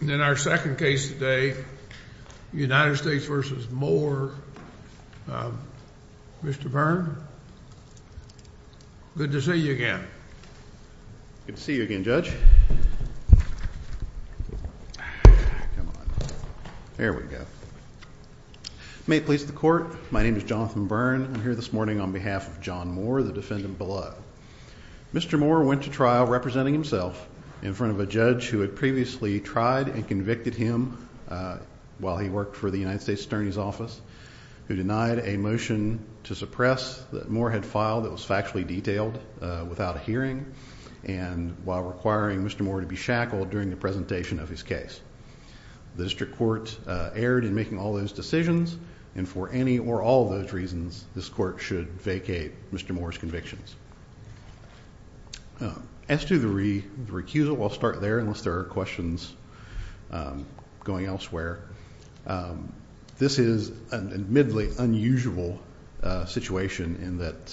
In our second case today, United States v. Moore, Mr. Byrne, good to see you again. Good to see you again, Judge. Come on. There we go. May it please the Court, my name is Jonathan Byrne. I'm here this morning on behalf of John Moore, the defendant below. Mr. Moore went to trial representing himself in front of a judge who had previously tried and convicted him while he worked for the United States Attorney's Office, who denied a motion to suppress that Moore had filed that was factually detailed without a hearing, and while requiring Mr. Moore to be shackled during the presentation of his case. The District Court erred in making all those decisions, and for any or all those reasons, this Court should vacate Mr. Moore's convictions. As to the recusal, I'll start there unless there are questions going elsewhere. This is an admittedly unusual situation in that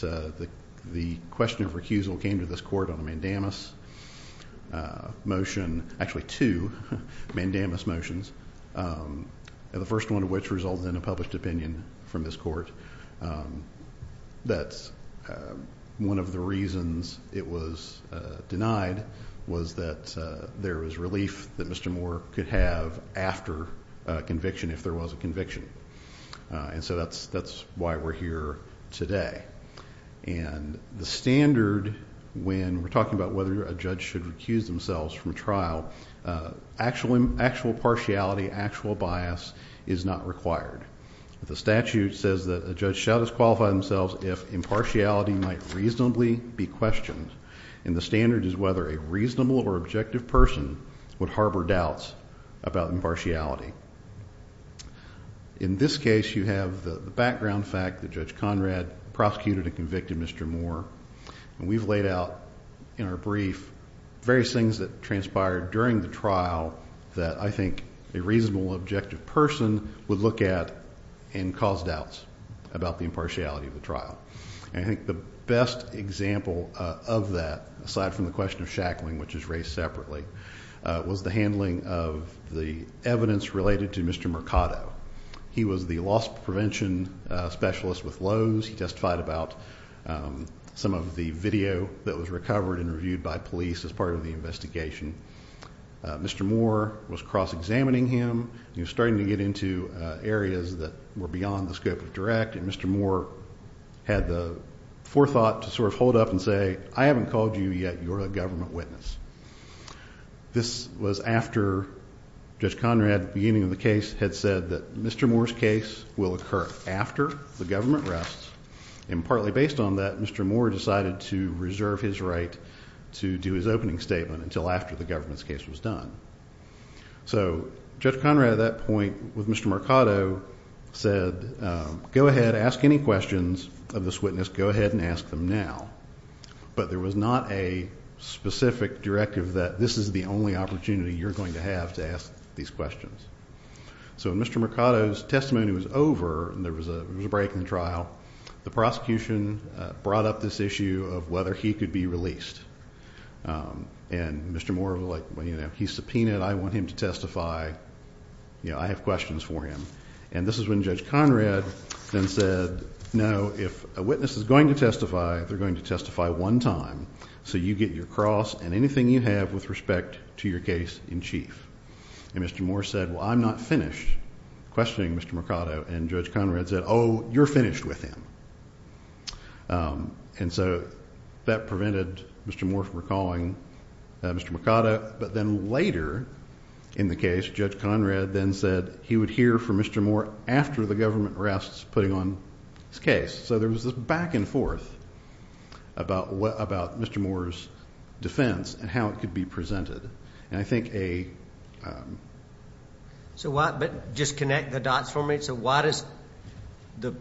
the question of recusal came to this Court on a mandamus motion, actually two mandamus motions, the first one of which resulted in a published opinion from this Court, that one of the reasons it was denied was that there was relief that Mr. Moore could have after conviction if there was a conviction. And so that's why we're here today. And the standard when we're talking about whether a judge should recuse themselves from trial, actual partiality, actual bias is not required. The statute says that a judge shall disqualify themselves if impartiality might reasonably be questioned, and the standard is whether a reasonable or objective person would harbor doubts about impartiality. In this case, you have the background fact that Judge Conrad prosecuted and convicted Mr. Moore, and we've laid out in our brief various things that transpired during the trial that I think a reasonable, objective person would look at and cause doubts about the impartiality of the trial. And I think the best example of that, aside from the question of shackling, which is raised separately, was the handling of the evidence related to Mr. Mercado. He was the loss prevention specialist with Lowe's. He testified about some of the video that was recovered and reviewed by police as part of the investigation. Mr. Moore was cross-examining him. He was starting to get into areas that were beyond the scope of direct, and Mr. Moore had the forethought to sort of hold up and say, I haven't called you yet. You're a government witness. This was after Judge Conrad, beginning of the case, had said that Mr. Moore's case will occur after the government rests, and partly based on that, Mr. Moore decided to reserve his right to do his opening statement until after the government's case was done. So Judge Conrad at that point, with Mr. Mercado, said, go ahead, ask any questions of this witness. Go ahead and ask them now. But there was not a specific directive that this is the only opportunity you're going to have to ask these questions. So when Mr. Mercado's testimony was over and there was a break in the trial, the prosecution brought up this issue of whether he could be released. And Mr. Moore was like, well, you know, he's subpoenaed. I want him to testify. You know, I have questions for him. And this is when Judge Conrad then said, no, if a witness is going to testify, they're going to testify one time. So you get your cross and anything you have with respect to your case in chief. And Mr. Moore said, well, I'm not finished questioning Mr. Mercado. And Judge Conrad said, oh, you're finished with him. And so that prevented Mr. Moore from recalling Mr. Mercado. But then later in the case, Judge Conrad then said he would hear from Mr. Moore after the government rests putting on his case. So there was this back and forth about Mr. Moore's defense and how it could be presented. And I think a... So why... but just connect the dots for me. So why does the,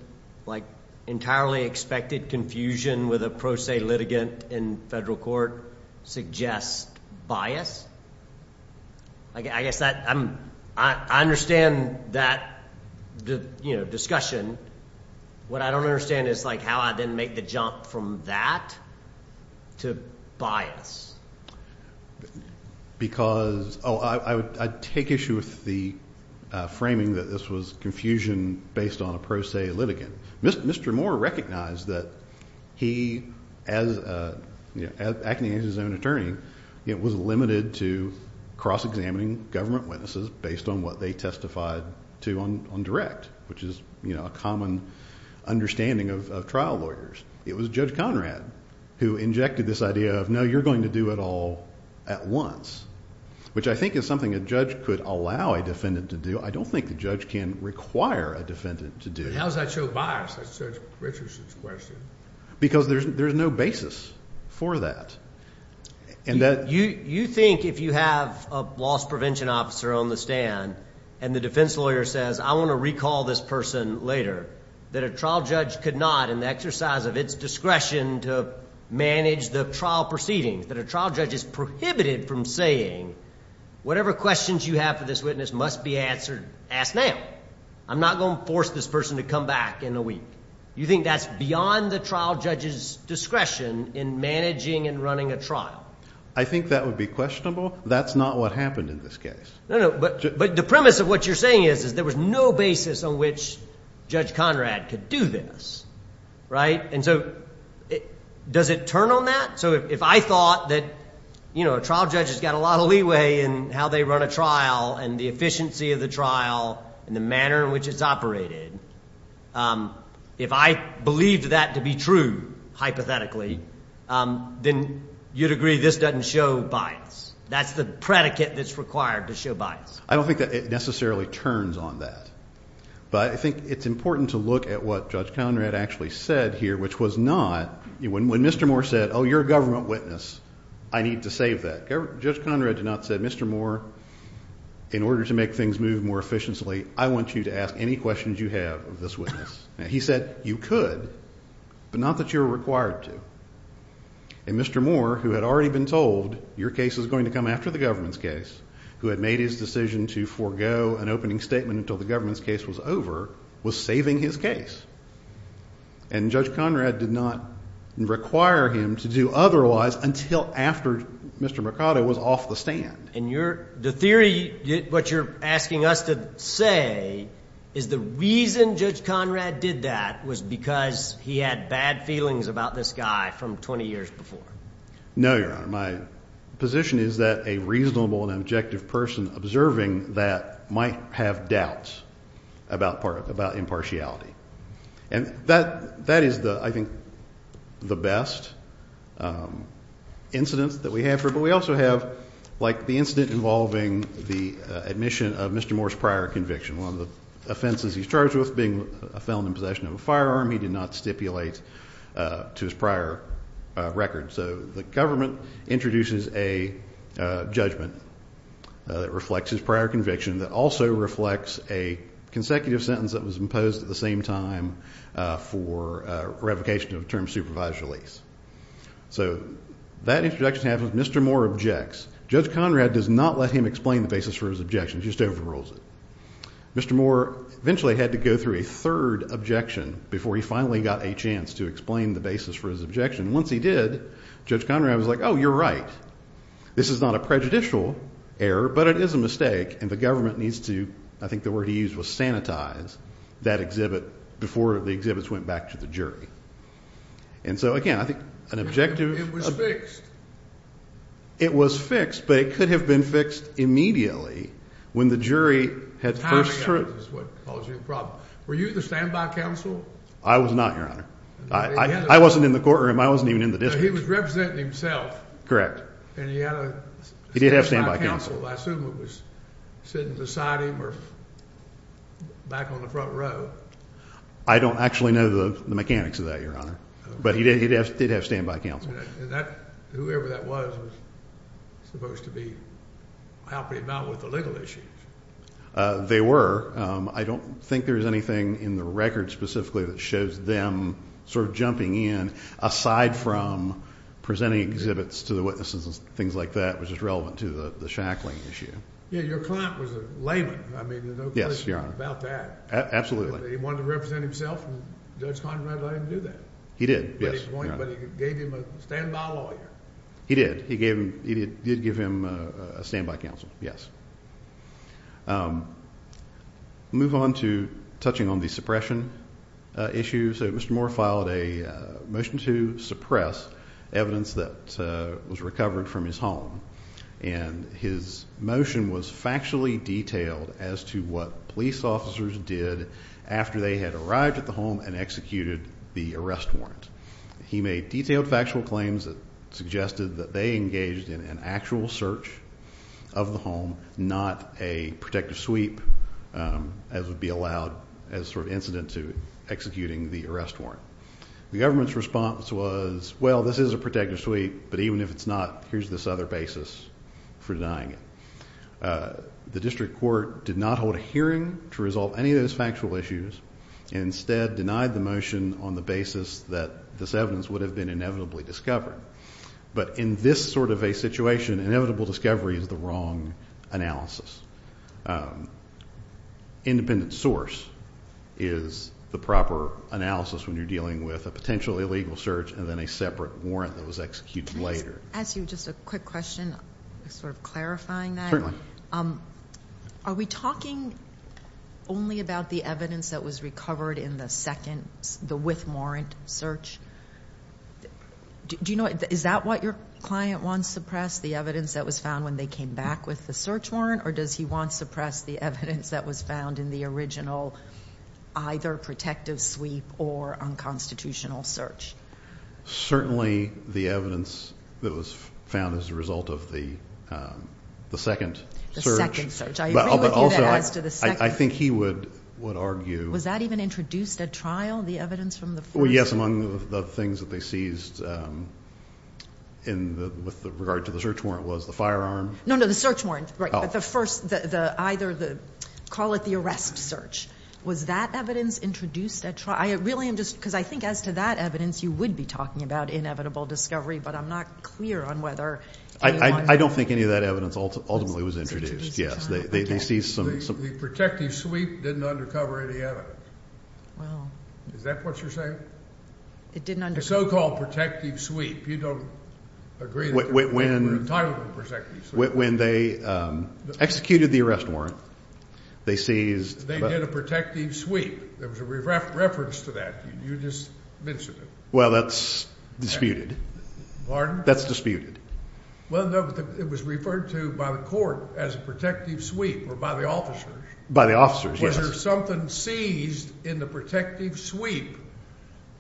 like, entirely expected confusion with a pro se litigant in federal court suggest bias? I guess that I'm... I understand that, you know, discussion. What I don't understand is, like, how I then make the jump from that to bias. Because... oh, I take issue with the framing that this was confusion based on a pro se litigant. Mr. Moore recognized that he, as, you know, acting as his own attorney, was limited to cross-examining government witnesses based on what they testified to on direct, which is, you know, a common understanding of trial lawyers. It was Judge Conrad who injected this idea of, no, you're going to do it all at once, which I think is something a judge could allow a defendant to do. I don't think the judge can require a defendant to do. But how does that show bias? That's Judge Richardson's question. Because there's no basis for that. You think if you have a loss prevention officer on the stand and the defense lawyer says, I want to recall this person later, that a trial judge could not, in the exercise of its discretion to manage the trial proceedings, that a trial judge is prohibited from saying, whatever questions you have for this witness must be asked now. I'm not going to force this person to come back in a week. You think that's beyond the trial judge's discretion in managing and running a trial? I think that would be questionable. That's not what happened in this case. But the premise of what you're saying is there was no basis on which Judge Conrad could do this, right? And so does it turn on that? So if I thought that a trial judge has got a lot of leeway in how they run a trial and the efficiency of the trial and the manner in which it's operated, if I believed that to be true, hypothetically, then you'd agree this doesn't show bias. That's the predicate that's required to show bias. I don't think that it necessarily turns on that. But I think it's important to look at what Judge Conrad actually said here, which was not, when Mr. Moore said, oh, you're a government witness, I need to save that, Judge Conrad did not say, Mr. Moore, in order to make things move more efficiently, I want you to ask any questions you have of this witness. He said you could, but not that you're required to. And Mr. Moore, who had already been told your case is going to come after the government's case, who had made his decision to forego an opening statement until the government's case was over, was saving his case. And Judge Conrad did not require him to do otherwise until after Mr. Mercado was off the stand. And the theory, what you're asking us to say, is the reason Judge Conrad did that was because he had bad feelings about this guy from 20 years before. No, Your Honor. My position is that a reasonable and objective person observing that might have doubts about impartiality. And that is, I think, the best incidence that we have. But we also have, like, the incident involving the admission of Mr. Moore's prior conviction, one of the offenses he's charged with being a felon in possession of a firearm he did not stipulate to his prior record. So the government introduces a judgment that reflects his prior conviction that also reflects a consecutive sentence that was imposed at the same time for revocation of a term of supervised release. So that introduction happens. Mr. Moore objects. Judge Conrad does not let him explain the basis for his objection. He just overrules it. Mr. Moore eventually had to go through a third objection before he finally got a chance to explain the basis for his objection. Once he did, Judge Conrad was like, oh, you're right. This is not a prejudicial error, but it is a mistake, and the government needs to, I think the word he used was sanitize, that exhibit before the exhibits went back to the jury. And so, again, I think an objective. It was fixed. It was fixed, but it could have been fixed immediately when the jury had first. Timing is what caused you the problem. Were you the standby counsel? I was not, Your Honor. I wasn't in the courtroom. I wasn't even in the district. He was representing himself. Correct. And he had a. He did have standby counsel. I assume it was sitting beside him or back on the front row. I don't actually know the mechanics of that, Your Honor. But he did have standby counsel. And that, whoever that was, was supposed to be helping him out with the legal issues. They were. I don't think there's anything in the record specifically that shows them sort of jumping in, aside from presenting exhibits to the witnesses and things like that, which is relevant to the shackling issue. Yeah, your client was a layman. I mean, there's no question about that. Absolutely. He wanted to represent himself, and Judge Conrad let him do that. He did, yes. But he gave him a standby lawyer. He did. He did give him a standby counsel, yes. Move on to touching on the suppression issue. So Mr. Moore filed a motion to suppress evidence that was recovered from his home. And his motion was factually detailed as to what police officers did after they had arrived at the home and executed the arrest warrant. He made detailed factual claims that suggested that they engaged in an actual search of the home, not a protective sweep as would be allowed as sort of incident to executing the arrest warrant. The government's response was, well, this is a protective sweep, but even if it's not, here's this other basis for denying it. The district court did not hold a hearing to resolve any of those factual issues and instead denied the motion on the basis that this evidence would have been inevitably discovered. But in this sort of a situation, inevitable discovery is the wrong analysis. Independent source is the proper analysis when you're dealing with a potential illegal search and then a separate warrant that was executed later. Can I ask you just a quick question, sort of clarifying that? Certainly. Are we talking only about the evidence that was recovered in the second, the with warrant search? Do you know, is that what your client wants suppressed, the evidence that was found when they came back with the search warrant, or does he want suppressed the evidence that was found in the original either protective sweep or unconstitutional search? Certainly the evidence that was found as a result of the second search. The second search. I agree with you that as to the second. I think he would argue. Was that even introduced at trial, the evidence from the first? Well, yes, among the things that they seized with regard to the search warrant was the firearm. No, no, the search warrant, right, but the first, either the, call it the arrest search. Was that evidence introduced at trial? I really am just, because I think as to that evidence, you would be talking about inevitable discovery, but I'm not clear on whether anyone. I don't think any of that evidence ultimately was introduced. Yes, they seized some. The protective sweep didn't undercover any evidence. Wow. Is that what you're saying? It didn't. The so-called protective sweep. You don't agree that they were entitled to a protective sweep. When they executed the arrest warrant, they seized. They did a protective sweep. There was a reference to that. You just mentioned it. Well, that's disputed. Pardon? That's disputed. Well, no, but it was referred to by the court as a protective sweep or by the officers. By the officers, yes. Was there something seized in the protective sweep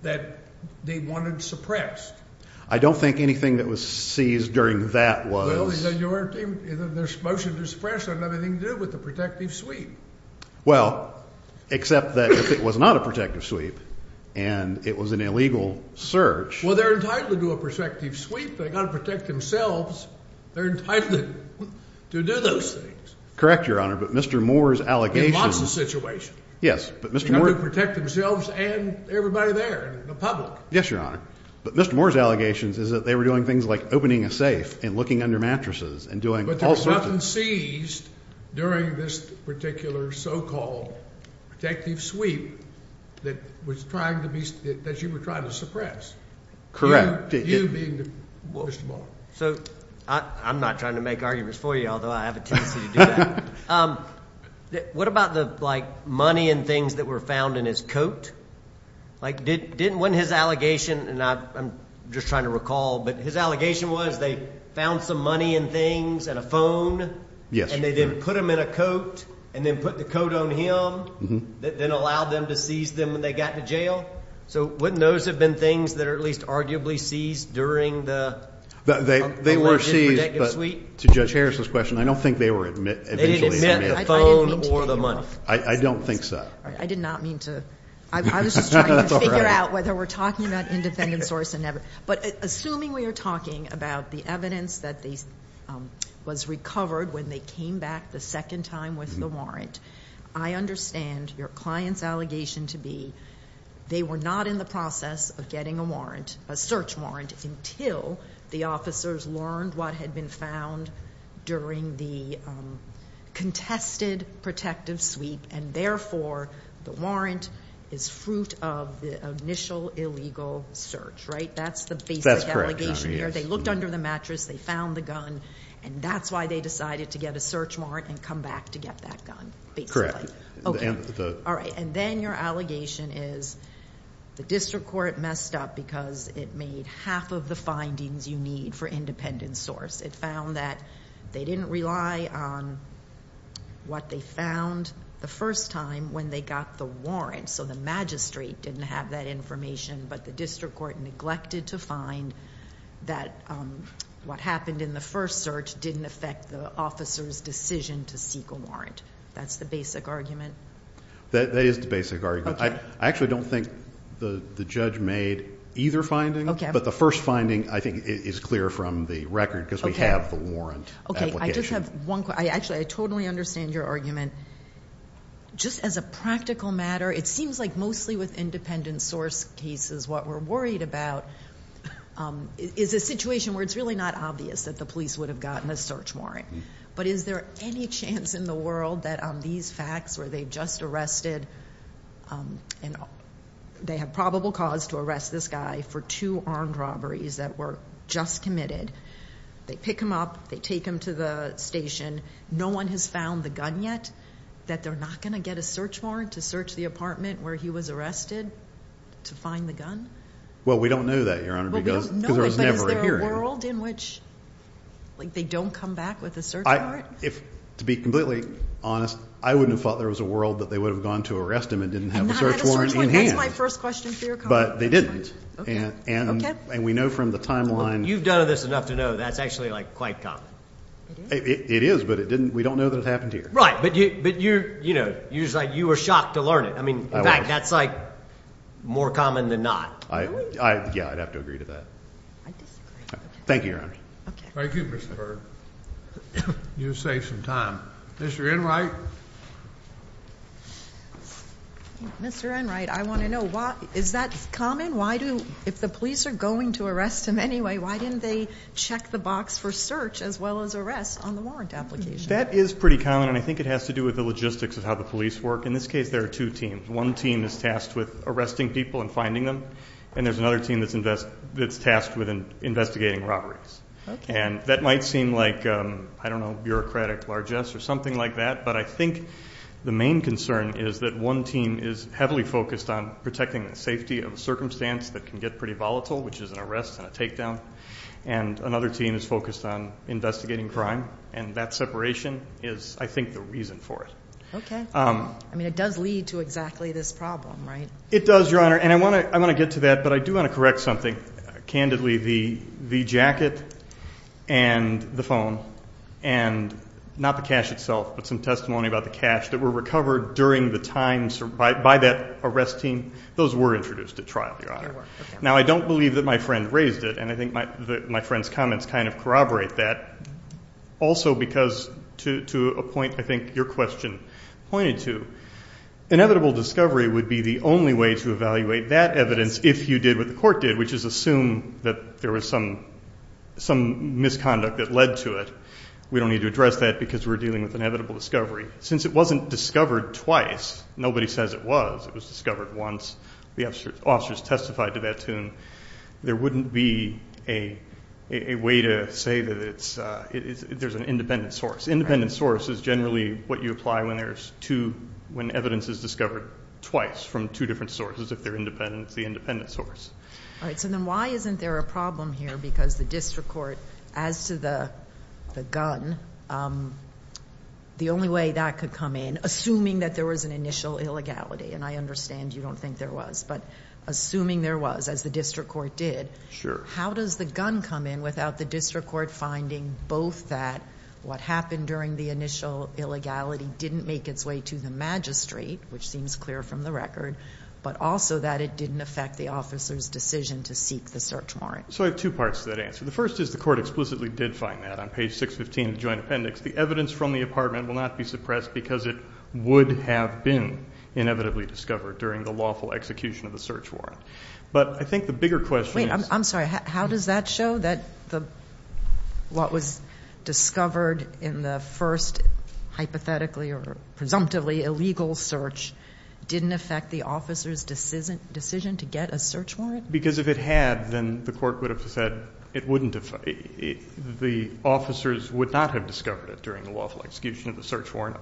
that they wanted suppressed? I don't think anything that was seized during that was. Well, you weren't even, there's motion to suppress, it had nothing to do with the protective sweep. Well, except that if it was not a protective sweep and it was an illegal search. Well, they're entitled to a protective sweep. They've got to protect themselves. They're entitled to do those things. Correct, Your Honor, but Mr. Moore's allegations. In lots of situations. Yes, but Mr. Moore. They've got to protect themselves and everybody there, the public. Yes, Your Honor, but Mr. Moore's allegations is that they were doing things like opening a safe and looking under mattresses and doing false searches. There was nothing seized during this particular so-called protective sweep that you were trying to suppress. You being Mr. Moore. So I'm not trying to make arguments for you, although I have a tendency to do that. What about the, like, money and things that were found in his coat? Like, wasn't his allegation, and I'm just trying to recall, but his allegation was they found some money and things and a phone. Yes. And they then put them in a coat and then put the coat on him. Mm-hmm. Then allowed them to seize them when they got to jail. So wouldn't those have been things that are at least arguably seized during the alleged protective sweep? They were seized, but to Judge Harris's question, I don't think they were eventually. They didn't admit it. I didn't mean to, Your Honor. I don't think so. I did not mean to. I was just trying to figure out whether we're talking about independent source or not. Sure. But assuming we are talking about the evidence that was recovered when they came back the second time with the warrant, I understand your client's allegation to be they were not in the process of getting a warrant, a search warrant, until the officers learned what had been found during the contested protective sweep, and therefore the warrant is fruit of the initial illegal search, right? That's the basic allegation here. That's correct, Your Honor. Yes. They looked under the mattress. They found the gun, and that's why they decided to get a search warrant and come back to get that gun basically. Correct. Okay. All right. And then your allegation is the district court messed up because it made half of the findings you need for independent source. It found that they didn't rely on what they found the first time when they got the warrant, so the magistrate didn't have that information, but the district court neglected to find that what happened in the first search didn't affect the officer's decision to seek a warrant. That's the basic argument? That is the basic argument. Okay. I actually don't think the judge made either finding. Okay. But the first finding I think is clear from the record because we have the warrant application. I just have one question. Actually, I totally understand your argument. Just as a practical matter, it seems like mostly with independent source cases, what we're worried about is a situation where it's really not obvious that the police would have gotten a search warrant, but is there any chance in the world that on these facts where they've just arrested and they have probable cause to arrest this guy for two armed robberies that were just committed, they pick him up, they take him to the station, no one has found the gun yet, that they're not going to get a search warrant to search the apartment where he was arrested to find the gun? Well, we don't know that, Your Honor, because there was never a hearing. Is there a world in which they don't come back with a search warrant? To be completely honest, I wouldn't have thought there was a world that they would have gone to arrest him and didn't have a search warrant in hand. That's my first question for your comment. But they didn't. Okay. And we know from the timeline. You've done this enough to know that's actually quite common. It is, but we don't know that it happened here. Right, but you were shocked to learn it. I was. In fact, that's more common than not. Yeah, I'd have to agree to that. Thank you, Your Honor. Thank you, Mr. Berg. You saved some time. Mr. Enright? Mr. Enright, I want to know, is that common? If the police are going to arrest him anyway, why didn't they check the box for search as well as arrest on the warrant application? That is pretty common, and I think it has to do with the logistics of how the police work. In this case, there are two teams. One team is tasked with arresting people and finding them, and there's another team that's tasked with investigating robberies. And that might seem like, I don't know, bureaucratic largesse or something like that, but I think the main concern is that one team is heavily focused on protecting the safety of a circumstance that can get pretty volatile, which is an arrest and a takedown, and another team is focused on investigating crime, and that separation is, I think, the reason for it. Okay. I mean, it does lead to exactly this problem, right? It does, Your Honor. And I want to get to that, but I do want to correct something. Candidly, the jacket and the phone and not the cash itself, but some testimony about the cash that were recovered during the time by that arrest team, those were introduced at trial, Your Honor. They were. Now, I don't believe that my friend raised it, and I think my friend's comments kind of corroborate that, also because to a point I think your question pointed to, inevitable discovery would be the only way to evaluate that evidence if you did what the court did, which is assume that there was some misconduct that led to it. We don't need to address that because we're dealing with inevitable discovery. Since it wasn't discovered twice, nobody says it was. It was discovered once. The officers testified to that, too, and there wouldn't be a way to say that there's an independent source. Independent source is generally what you apply when there's two, when evidence is discovered twice from two different sources, if they're independent. It's the independent source. All right, so then why isn't there a problem here? Because the district court, as to the gun, the only way that could come in, assuming that there was an initial illegality, and I understand you don't think there was, but assuming there was, as the district court did, how does the gun come in without the district court finding both that what happened during the initial illegality didn't make its way to the magistrate, which seems clear from the record, but also that it didn't affect the officer's decision to seek the search warrant? So I have two parts to that answer. The first is the court explicitly did find that on page 615 of the joint appendix. The evidence from the apartment will not be suppressed because it would have been inevitably discovered during the lawful execution of the search warrant. But I think the bigger question is. Wait, I'm sorry. How does that show that what was discovered in the first hypothetically or presumptively illegal search didn't affect the officer's decision to get a search warrant? Because if it had, then the court would have said it wouldn't have, the officers would not have discovered it during the lawful execution of the search warrant.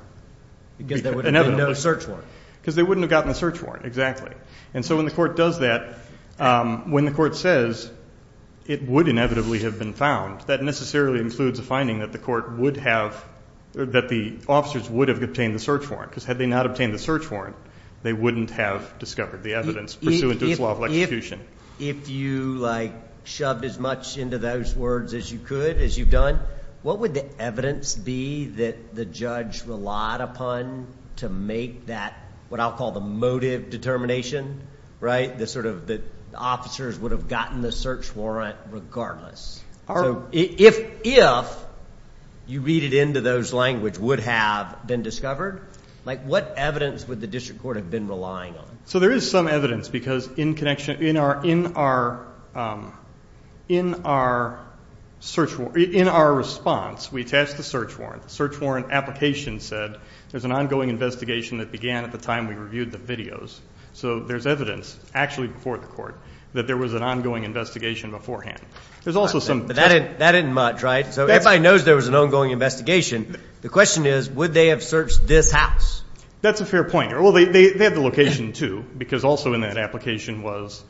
Because there would have been no search warrant. Because they wouldn't have gotten the search warrant, exactly. And so when the court does that, when the court says it would inevitably have been found, that necessarily includes a finding that the court would have, that the officers would have obtained the search warrant. Because had they not obtained the search warrant, they wouldn't have discovered the evidence pursuant to its lawful execution. If you, like, shoved as much into those words as you could, as you've done, what would the evidence be that the judge relied upon to make that, what I'll call the motive determination, right, that sort of the officers would have gotten the search warrant regardless? So if you read it into those language, would have been discovered, like what evidence would the district court have been relying on? So there is some evidence because in connection, in our, in our, in our search, in our response we attached the search warrant. Our search warrant application said there's an ongoing investigation that began at the time we reviewed the videos. So there's evidence actually before the court that there was an ongoing investigation beforehand. There's also some. But that isn't much, right? So everybody knows there was an ongoing investigation. The question is, would they have searched this house? That's a fair point. Well, they have the location, too, because also in that application was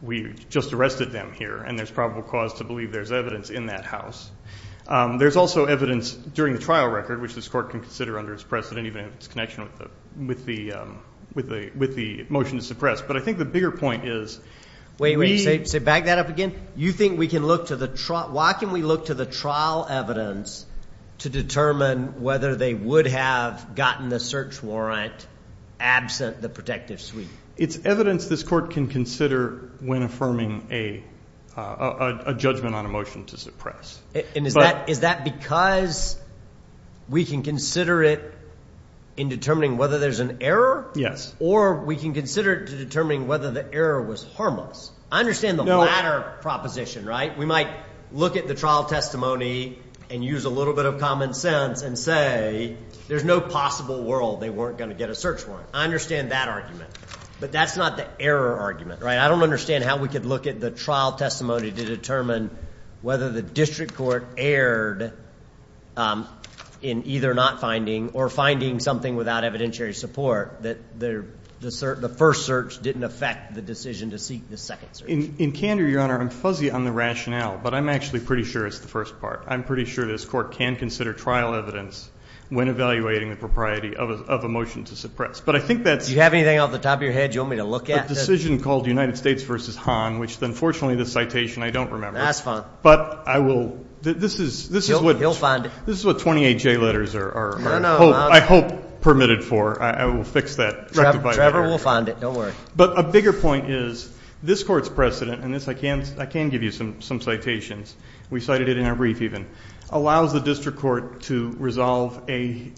we just arrested them here, and there's probable cause to believe there's evidence in that house. There's also evidence during the trial record, which this court can consider under its precedent, even if it's connection with the, with the, with the motion to suppress. But I think the bigger point is. Wait, wait, say, say, back that up again. You think we can look to the trial? Why can we look to the trial evidence to determine whether they would have gotten the search warrant absent the protective suite? It's evidence this court can consider when affirming a judgment on a motion to suppress. And is that, is that because we can consider it in determining whether there's an error? Yes. Or we can consider determining whether the error was harmless. I understand the latter proposition, right? We might look at the trial testimony and use a little bit of common sense and say there's no possible world they weren't going to get a search warrant. I understand that argument, but that's not the error argument, right? I don't understand how we could look at the trial testimony to determine whether the district court erred in either not finding or finding something without evidentiary support that the first search didn't affect the decision to seek the second search. In candor, Your Honor, I'm fuzzy on the rationale, but I'm actually pretty sure it's the first part. I'm pretty sure this court can consider trial evidence when evaluating the propriety of a motion to suppress. But I think that's. Do you have anything off the top of your head you want me to look at? A decision called United States v. Hahn, which unfortunately this citation I don't remember. That's fine. But I will. This is what. He'll find it. This is what 28J letters are I hope permitted for. I will fix that rectified error. Trevor will find it. Don't worry. But a bigger point is this court's precedent, and this I can give you some citations. We cited it in our brief even, allows the district court to resolve this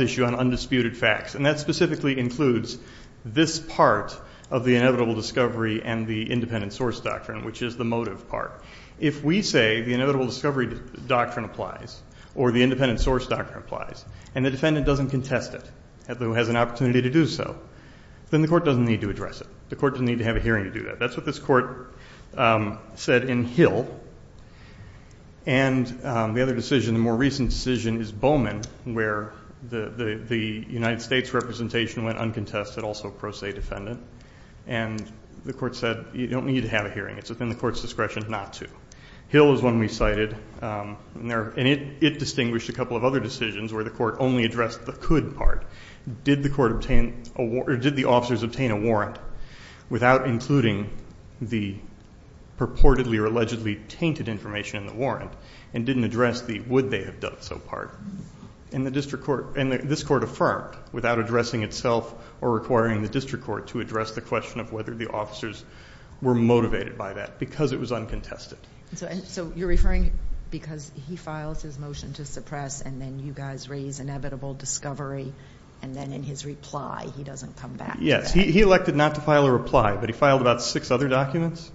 issue on undisputed facts. And that specifically includes this part of the inevitable discovery and the independent source doctrine, which is the motive part. If we say the inevitable discovery doctrine applies or the independent source doctrine applies and the defendant doesn't contest it, although has an opportunity to do so, then the court doesn't need to address it. The court doesn't need to have a hearing to do that. That's what this court said in Hill. And the other decision, the more recent decision, is Bowman, where the United States representation went uncontested, also a pro se defendant, and the court said you don't need to have a hearing. It's within the court's discretion not to. Hill is one we cited, and it distinguished a couple of other decisions where the court only addressed the could part. Did the officers obtain a warrant without including the purportedly or allegedly tainted information in the warrant and didn't address the would they have done so part? And this court affirmed without addressing itself or requiring the district court to address the question of whether the officers were motivated by that, because it was uncontested. So you're referring because he files his motion to suppress, and then you guys raise inevitable discovery, and then in his reply he doesn't come back to that. Yes. He elected not to file a reply, but he filed about six other documents.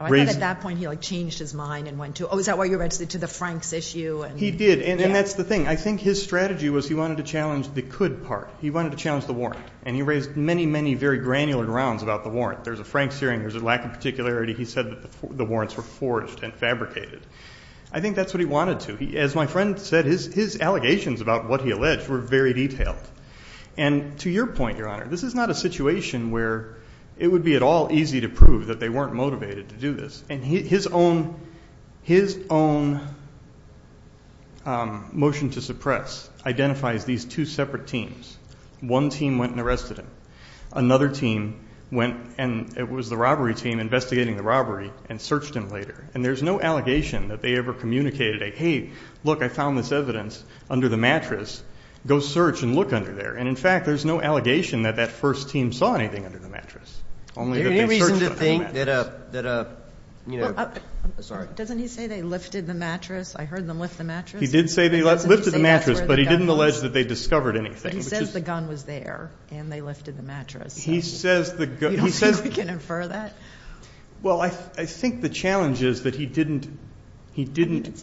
I thought at that point he, like, changed his mind and went to, oh, is that why you went to the Franks issue? He did, and that's the thing. I think his strategy was he wanted to challenge the could part. He wanted to challenge the warrant, and he raised many, many very granular grounds about the warrant. There's a Franks hearing. There's a lack of particularity. He said that the warrants were forged and fabricated. I think that's what he wanted to. As my friend said, his allegations about what he alleged were very detailed. And to your point, Your Honor, this is not a situation where it would be at all easy to prove that they weren't motivated to do this. And his own motion to suppress identifies these two separate teams. One team went and arrested him. Another team went and it was the robbery team investigating the robbery and searched him later. And there's no allegation that they ever communicated a, hey, look, I found this evidence under the mattress. Go search and look under there. And, in fact, there's no allegation that that first team saw anything under the mattress, only that they searched the mattress. Is there any reason to think that a, you know, sorry. Doesn't he say they lifted the mattress? I heard them lift the mattress. He did say they lifted the mattress, but he didn't allege that they discovered anything. He says the gun was there and they lifted the mattress. He says the gun. You don't think we can infer that? Well, I think the challenge is that he didn't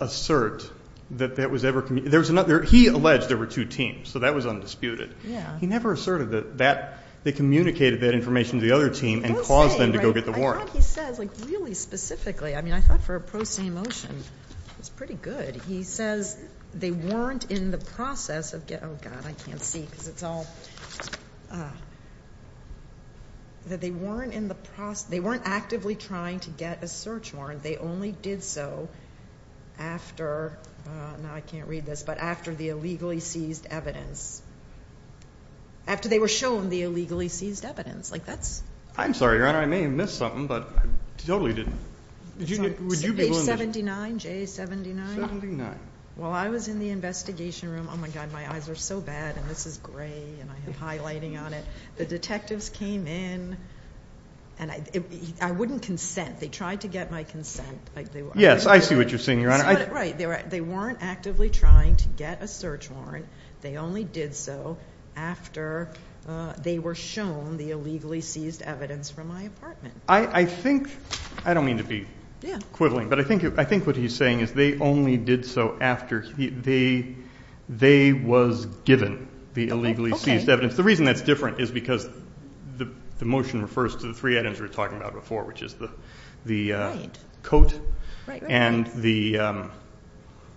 assert that that was ever communicated. There was another. He alleged there were two teams, so that was undisputed. Yeah. He never asserted that they communicated that information to the other team and caused them to go get the warrant. I thought he says, like, really specifically, I mean, I thought for a pro se motion, it's pretty good. He says they weren't in the process of getting, oh, God, I can't see because it's all, that they weren't in the process, they weren't actively trying to get a search warrant. They only did so after, now I can't read this, but after the illegally seized evidence. After they were shown the illegally seized evidence. Like, that's. I'm sorry, Your Honor, I may have missed something, but I totally didn't. Would you be willing to. 79, J79? While I was in the investigation room, oh, my God, my eyes are so bad, and this is gray, and I have highlighting on it. The detectives came in, and I wouldn't consent. They tried to get my consent. Yes, I see what you're saying, Your Honor. Right. They weren't actively trying to get a search warrant. They only did so after they were shown the illegally seized evidence from my apartment. I think, I don't mean to be. Yeah. Equivalent, but I think what he's saying is they only did so after they was given the illegally seized evidence. The reason that's different is because the motion refers to the three items we were talking about before, which is the coat. Right, right, right. And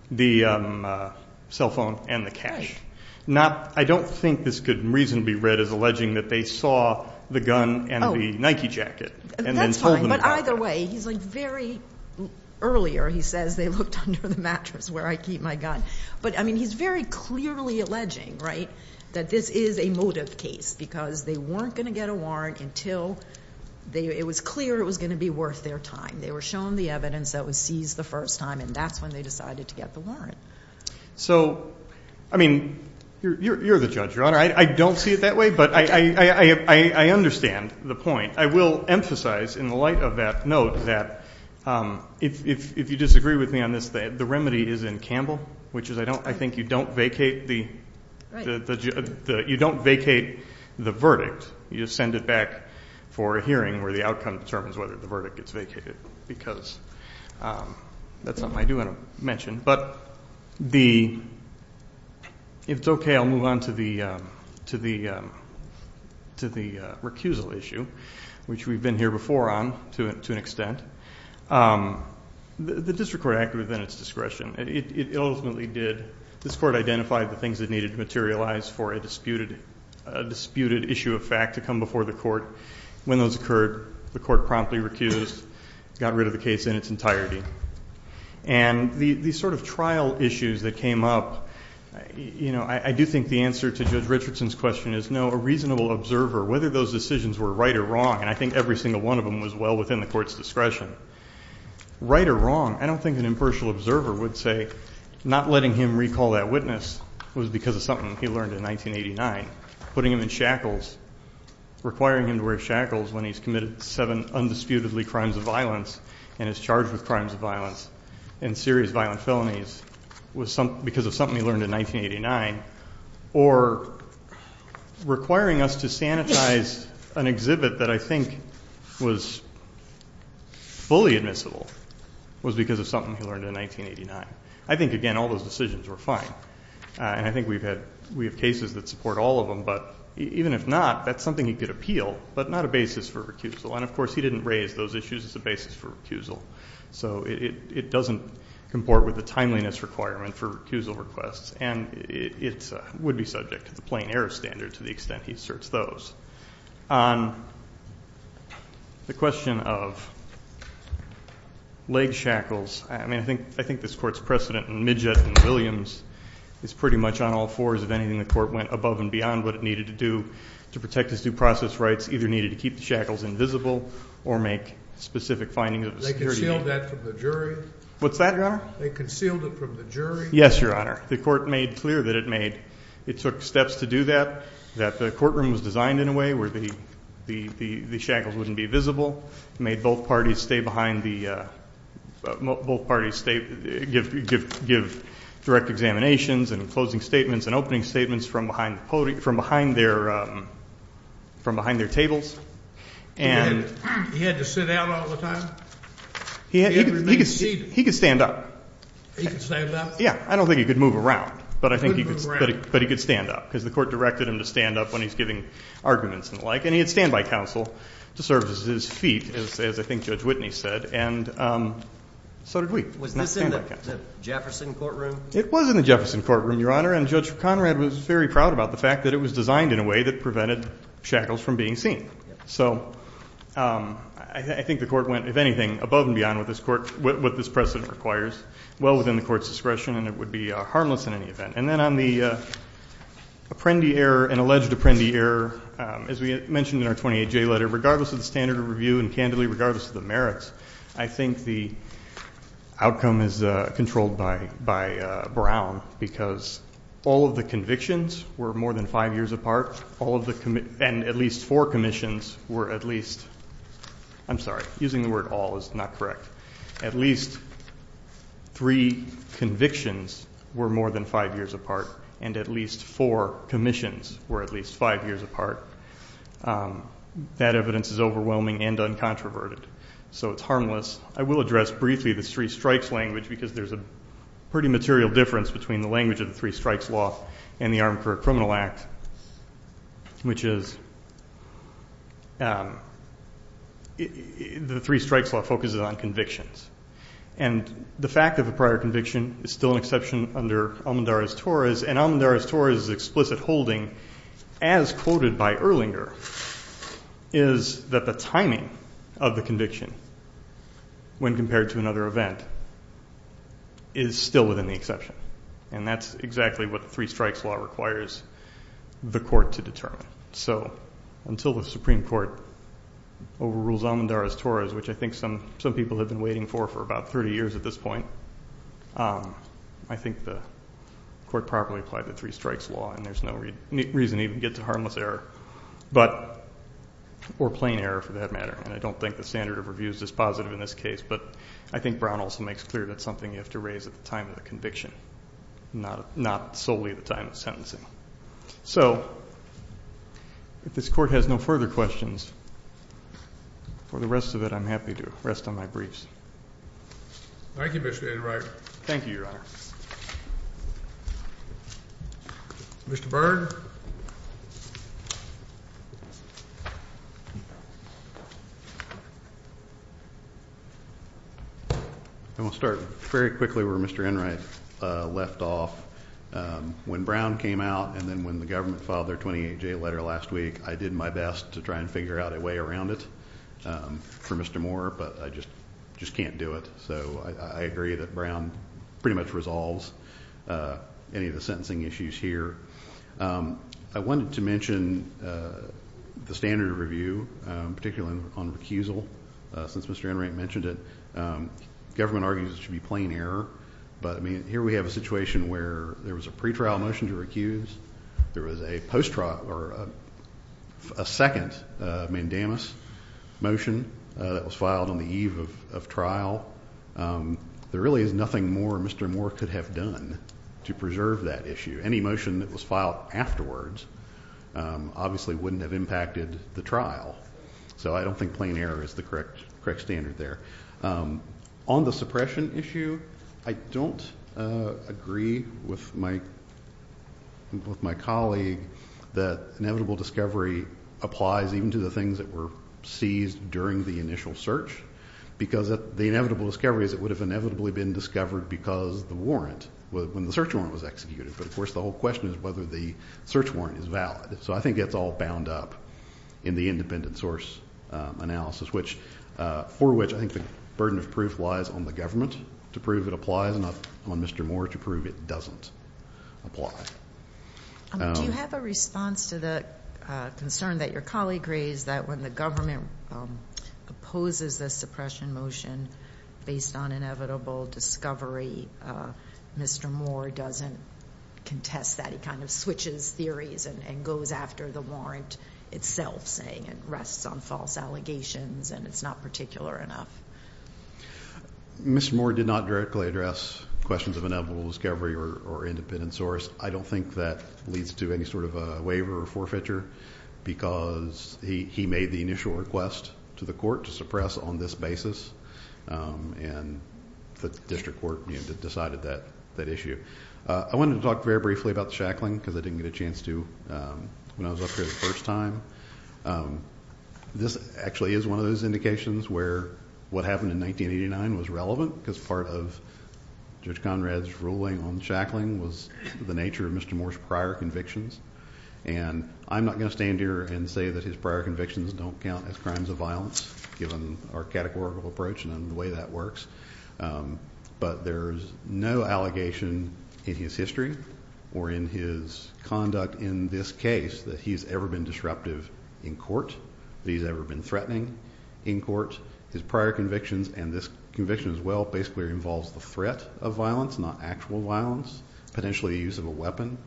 the cell phone and the cash. Right. Now, I don't think this could reasonably be read as alleging that they saw the gun and the Nike jacket. That's fine, but either way, he's like very, earlier he says they looked under the mattress where I keep my gun. But, I mean, he's very clearly alleging, right, that this is a motive case because they weren't going to get a warrant until it was clear it was going to be worth their time. They were shown the evidence that was seized the first time, and that's when they decided to get the warrant. So, I mean, you're the judge, Your Honor. I don't see it that way, but I understand the point. I will emphasize in the light of that note that if you disagree with me on this, the remedy is in Campbell, which is I think you don't vacate the verdict. You just send it back for a hearing where the outcome determines whether the verdict gets vacated because that's something I do want to mention. But the, if it's okay, I'll move on to the recusal issue, which we've been here before on to an extent. The district court acted within its discretion. It ultimately did, this court identified the things that needed to materialize for a disputed issue of fact to come before the court. When those occurred, the court promptly recused, got rid of the case in its entirety. And the sort of trial issues that came up, you know, I do think the answer to Judge Richardson's question is no, a reasonable observer, whether those decisions were right or wrong, and I think every single one of them was well within the court's discretion. Right or wrong, I don't think an impartial observer would say not letting him recall that witness was because of something he learned in 1989, putting him in shackles, requiring him to wear shackles when he's committed seven undisputedly crimes of violence and is charged with crimes of violence and serious violent felonies was because of something he learned in 1989, or requiring us to sanitize an exhibit that I think was fully admissible was because of something he learned in 1989. I think, again, all those decisions were fine, and I think we've had, we have cases that support all of them, but even if not, that's something he could appeal, but not a basis for recusal. And, of course, he didn't raise those issues as a basis for recusal. So it doesn't comport with the timeliness requirement for recusal requests, and it would be subject to the plain error standard to the extent he asserts those. On the question of leg shackles, I mean, I think this court's precedent in Midgett and Williams is pretty much on all fours. If anything, the court went above and beyond what it needed to do to protect his due process rights. It either needed to keep the shackles invisible or make specific findings of security. They concealed that from the jury? What's that, Your Honor? They concealed it from the jury? Yes, Your Honor. The court made clear that it took steps to do that, that the courtroom was designed in a way where the shackles wouldn't be visible, made both parties give direct examinations and closing statements and opening statements from behind their tables. He had to sit out all the time? He could stand up. He could stand up? Yes. I don't think he could move around, but I think he could stand up because the court directed him to stand up when he's giving arguments and the like. And he had standby counsel to serve as his feet, as I think Judge Whitney said, and so did we. Was this in the Jefferson courtroom? It was in the Jefferson courtroom, Your Honor, and Judge Conrad was very proud about the fact that it was designed in a way that prevented shackles from being seen. So I think the court went, if anything, above and beyond what this precedent requires, well within the court's discretion, and it would be harmless in any event. And then on the Apprendi error, an alleged Apprendi error, as we mentioned in our 28J letter, regardless of the standard of review and candidly, regardless of the merits, I think the outcome is controlled by Brown because all of the convictions were more than five years apart, and at least four commissions were at least, I'm sorry, using the word all is not correct, at least three convictions were more than five years apart, and at least four commissions were at least five years apart. That evidence is overwhelming and uncontroverted, so it's harmless. I will address briefly the three strikes language because there's a pretty material difference between the language of the three strikes law and the Armed Career Criminal Act, which is the three strikes law focuses on convictions. And the fact of a prior conviction is still an exception under Almendarez-Torres, and Almendarez-Torres' explicit holding, as quoted by Erlinger, is that the timing of the conviction when compared to another event is still within the exception, and that's exactly what the three strikes law requires the court to determine. So until the Supreme Court overrules Almendarez-Torres, which I think some people have been waiting for for about 30 years at this point, I think the court properly applied the three strikes law, and there's no reason to even get to harmless error or plain error for that matter, and I don't think the standard of reviews is positive in this case, but I think Brown also makes clear that's something you have to raise at the time of the conviction, not solely at the time of sentencing. So if this court has no further questions, for the rest of it, I'm happy to rest on my briefs. Thank you, Mr. Enright. Thank you, Your Honor. Mr. Byrne. I want to start very quickly where Mr. Enright left off. When Brown came out and then when the government filed their 28-J letter last week, I did my best to try and figure out a way around it for Mr. Moore, but I just can't do it. So I agree that Brown pretty much resolves any of the sentencing issues here. I wanted to mention the standard of review, particularly on recusal, since Mr. Enright mentioned it. Government argues it should be plain error, but, I mean, here we have a situation where there was a pretrial motion to recuse, there was a post-trial or a second mandamus motion that was filed on the eve of trial. There really is nothing more Mr. Moore could have done to preserve that issue. Any motion that was filed afterwards obviously wouldn't have impacted the trial. So I don't think plain error is the correct standard there. On the suppression issue, I don't agree with my colleague that inevitable discovery applies even to the things that were seized during the initial search because the inevitable discovery is it would have inevitably been discovered because the warrant, when the search warrant was executed. But, of course, the whole question is whether the search warrant is valid. So I think it's all bound up in the independent source analysis, for which I think the burden of proof lies on the government to prove it applies and on Mr. Moore to prove it doesn't apply. Do you have a response to the concern that your colleague raised that when the government opposes the suppression motion based on inevitable discovery, Mr. Moore doesn't contest that. He kind of switches theories and goes after the warrant itself, saying it rests on false allegations and it's not particular enough. Mr. Moore did not directly address questions of inevitable discovery or independent source. I don't think that leads to any sort of a waiver or forfeiture because he made the initial request to the court to suppress on this basis, and the district court decided that issue. I wanted to talk very briefly about the shackling because I didn't get a chance to when I was up here the first time. This actually is one of those indications where what happened in 1989 was relevant because part of Judge Conrad's ruling on shackling was the nature of Mr. Moore's prior convictions. I'm not going to stand here and say that his prior convictions don't count as crimes of violence, given our categorical approach and the way that works, but there's no allegation in his history or in his conduct in this case that he's ever been disruptive in court, that he's ever been threatening in court. His prior convictions and this conviction as well basically involves the threat of violence, not actual violence, potentially the use of a weapon.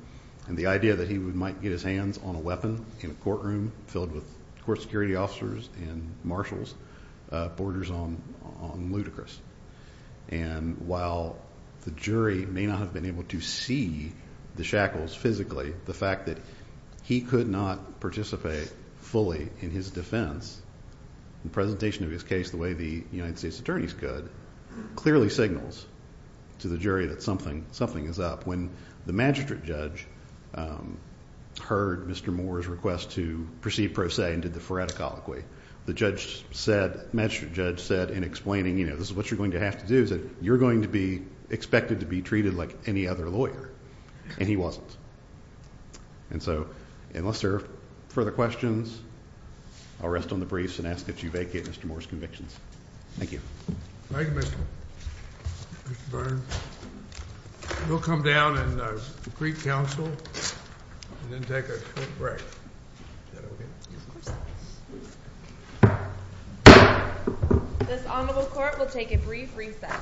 The idea that he might get his hands on a weapon in a courtroom filled with court security officers and marshals borders on ludicrous. While the jury may not have been able to see the shackles physically, the fact that he could not participate fully in his defense, the presentation of his case the way the United States attorneys could, clearly signals to the jury that something is up. When the magistrate judge heard Mr. Moore's request to proceed pro se and did the phoretic colloquy, the magistrate judge said in explaining, you know, this is what you're going to have to do is that you're going to be expected to be treated like any other lawyer. And he wasn't. And so unless there are further questions, I'll rest on the briefs and ask that you vacate Mr. Moore's convictions. Thank you. Thank you, Mr. Burns. We'll come down and greet counsel and then take a short break. Is that OK? Of course. This honorable court will take a brief reset.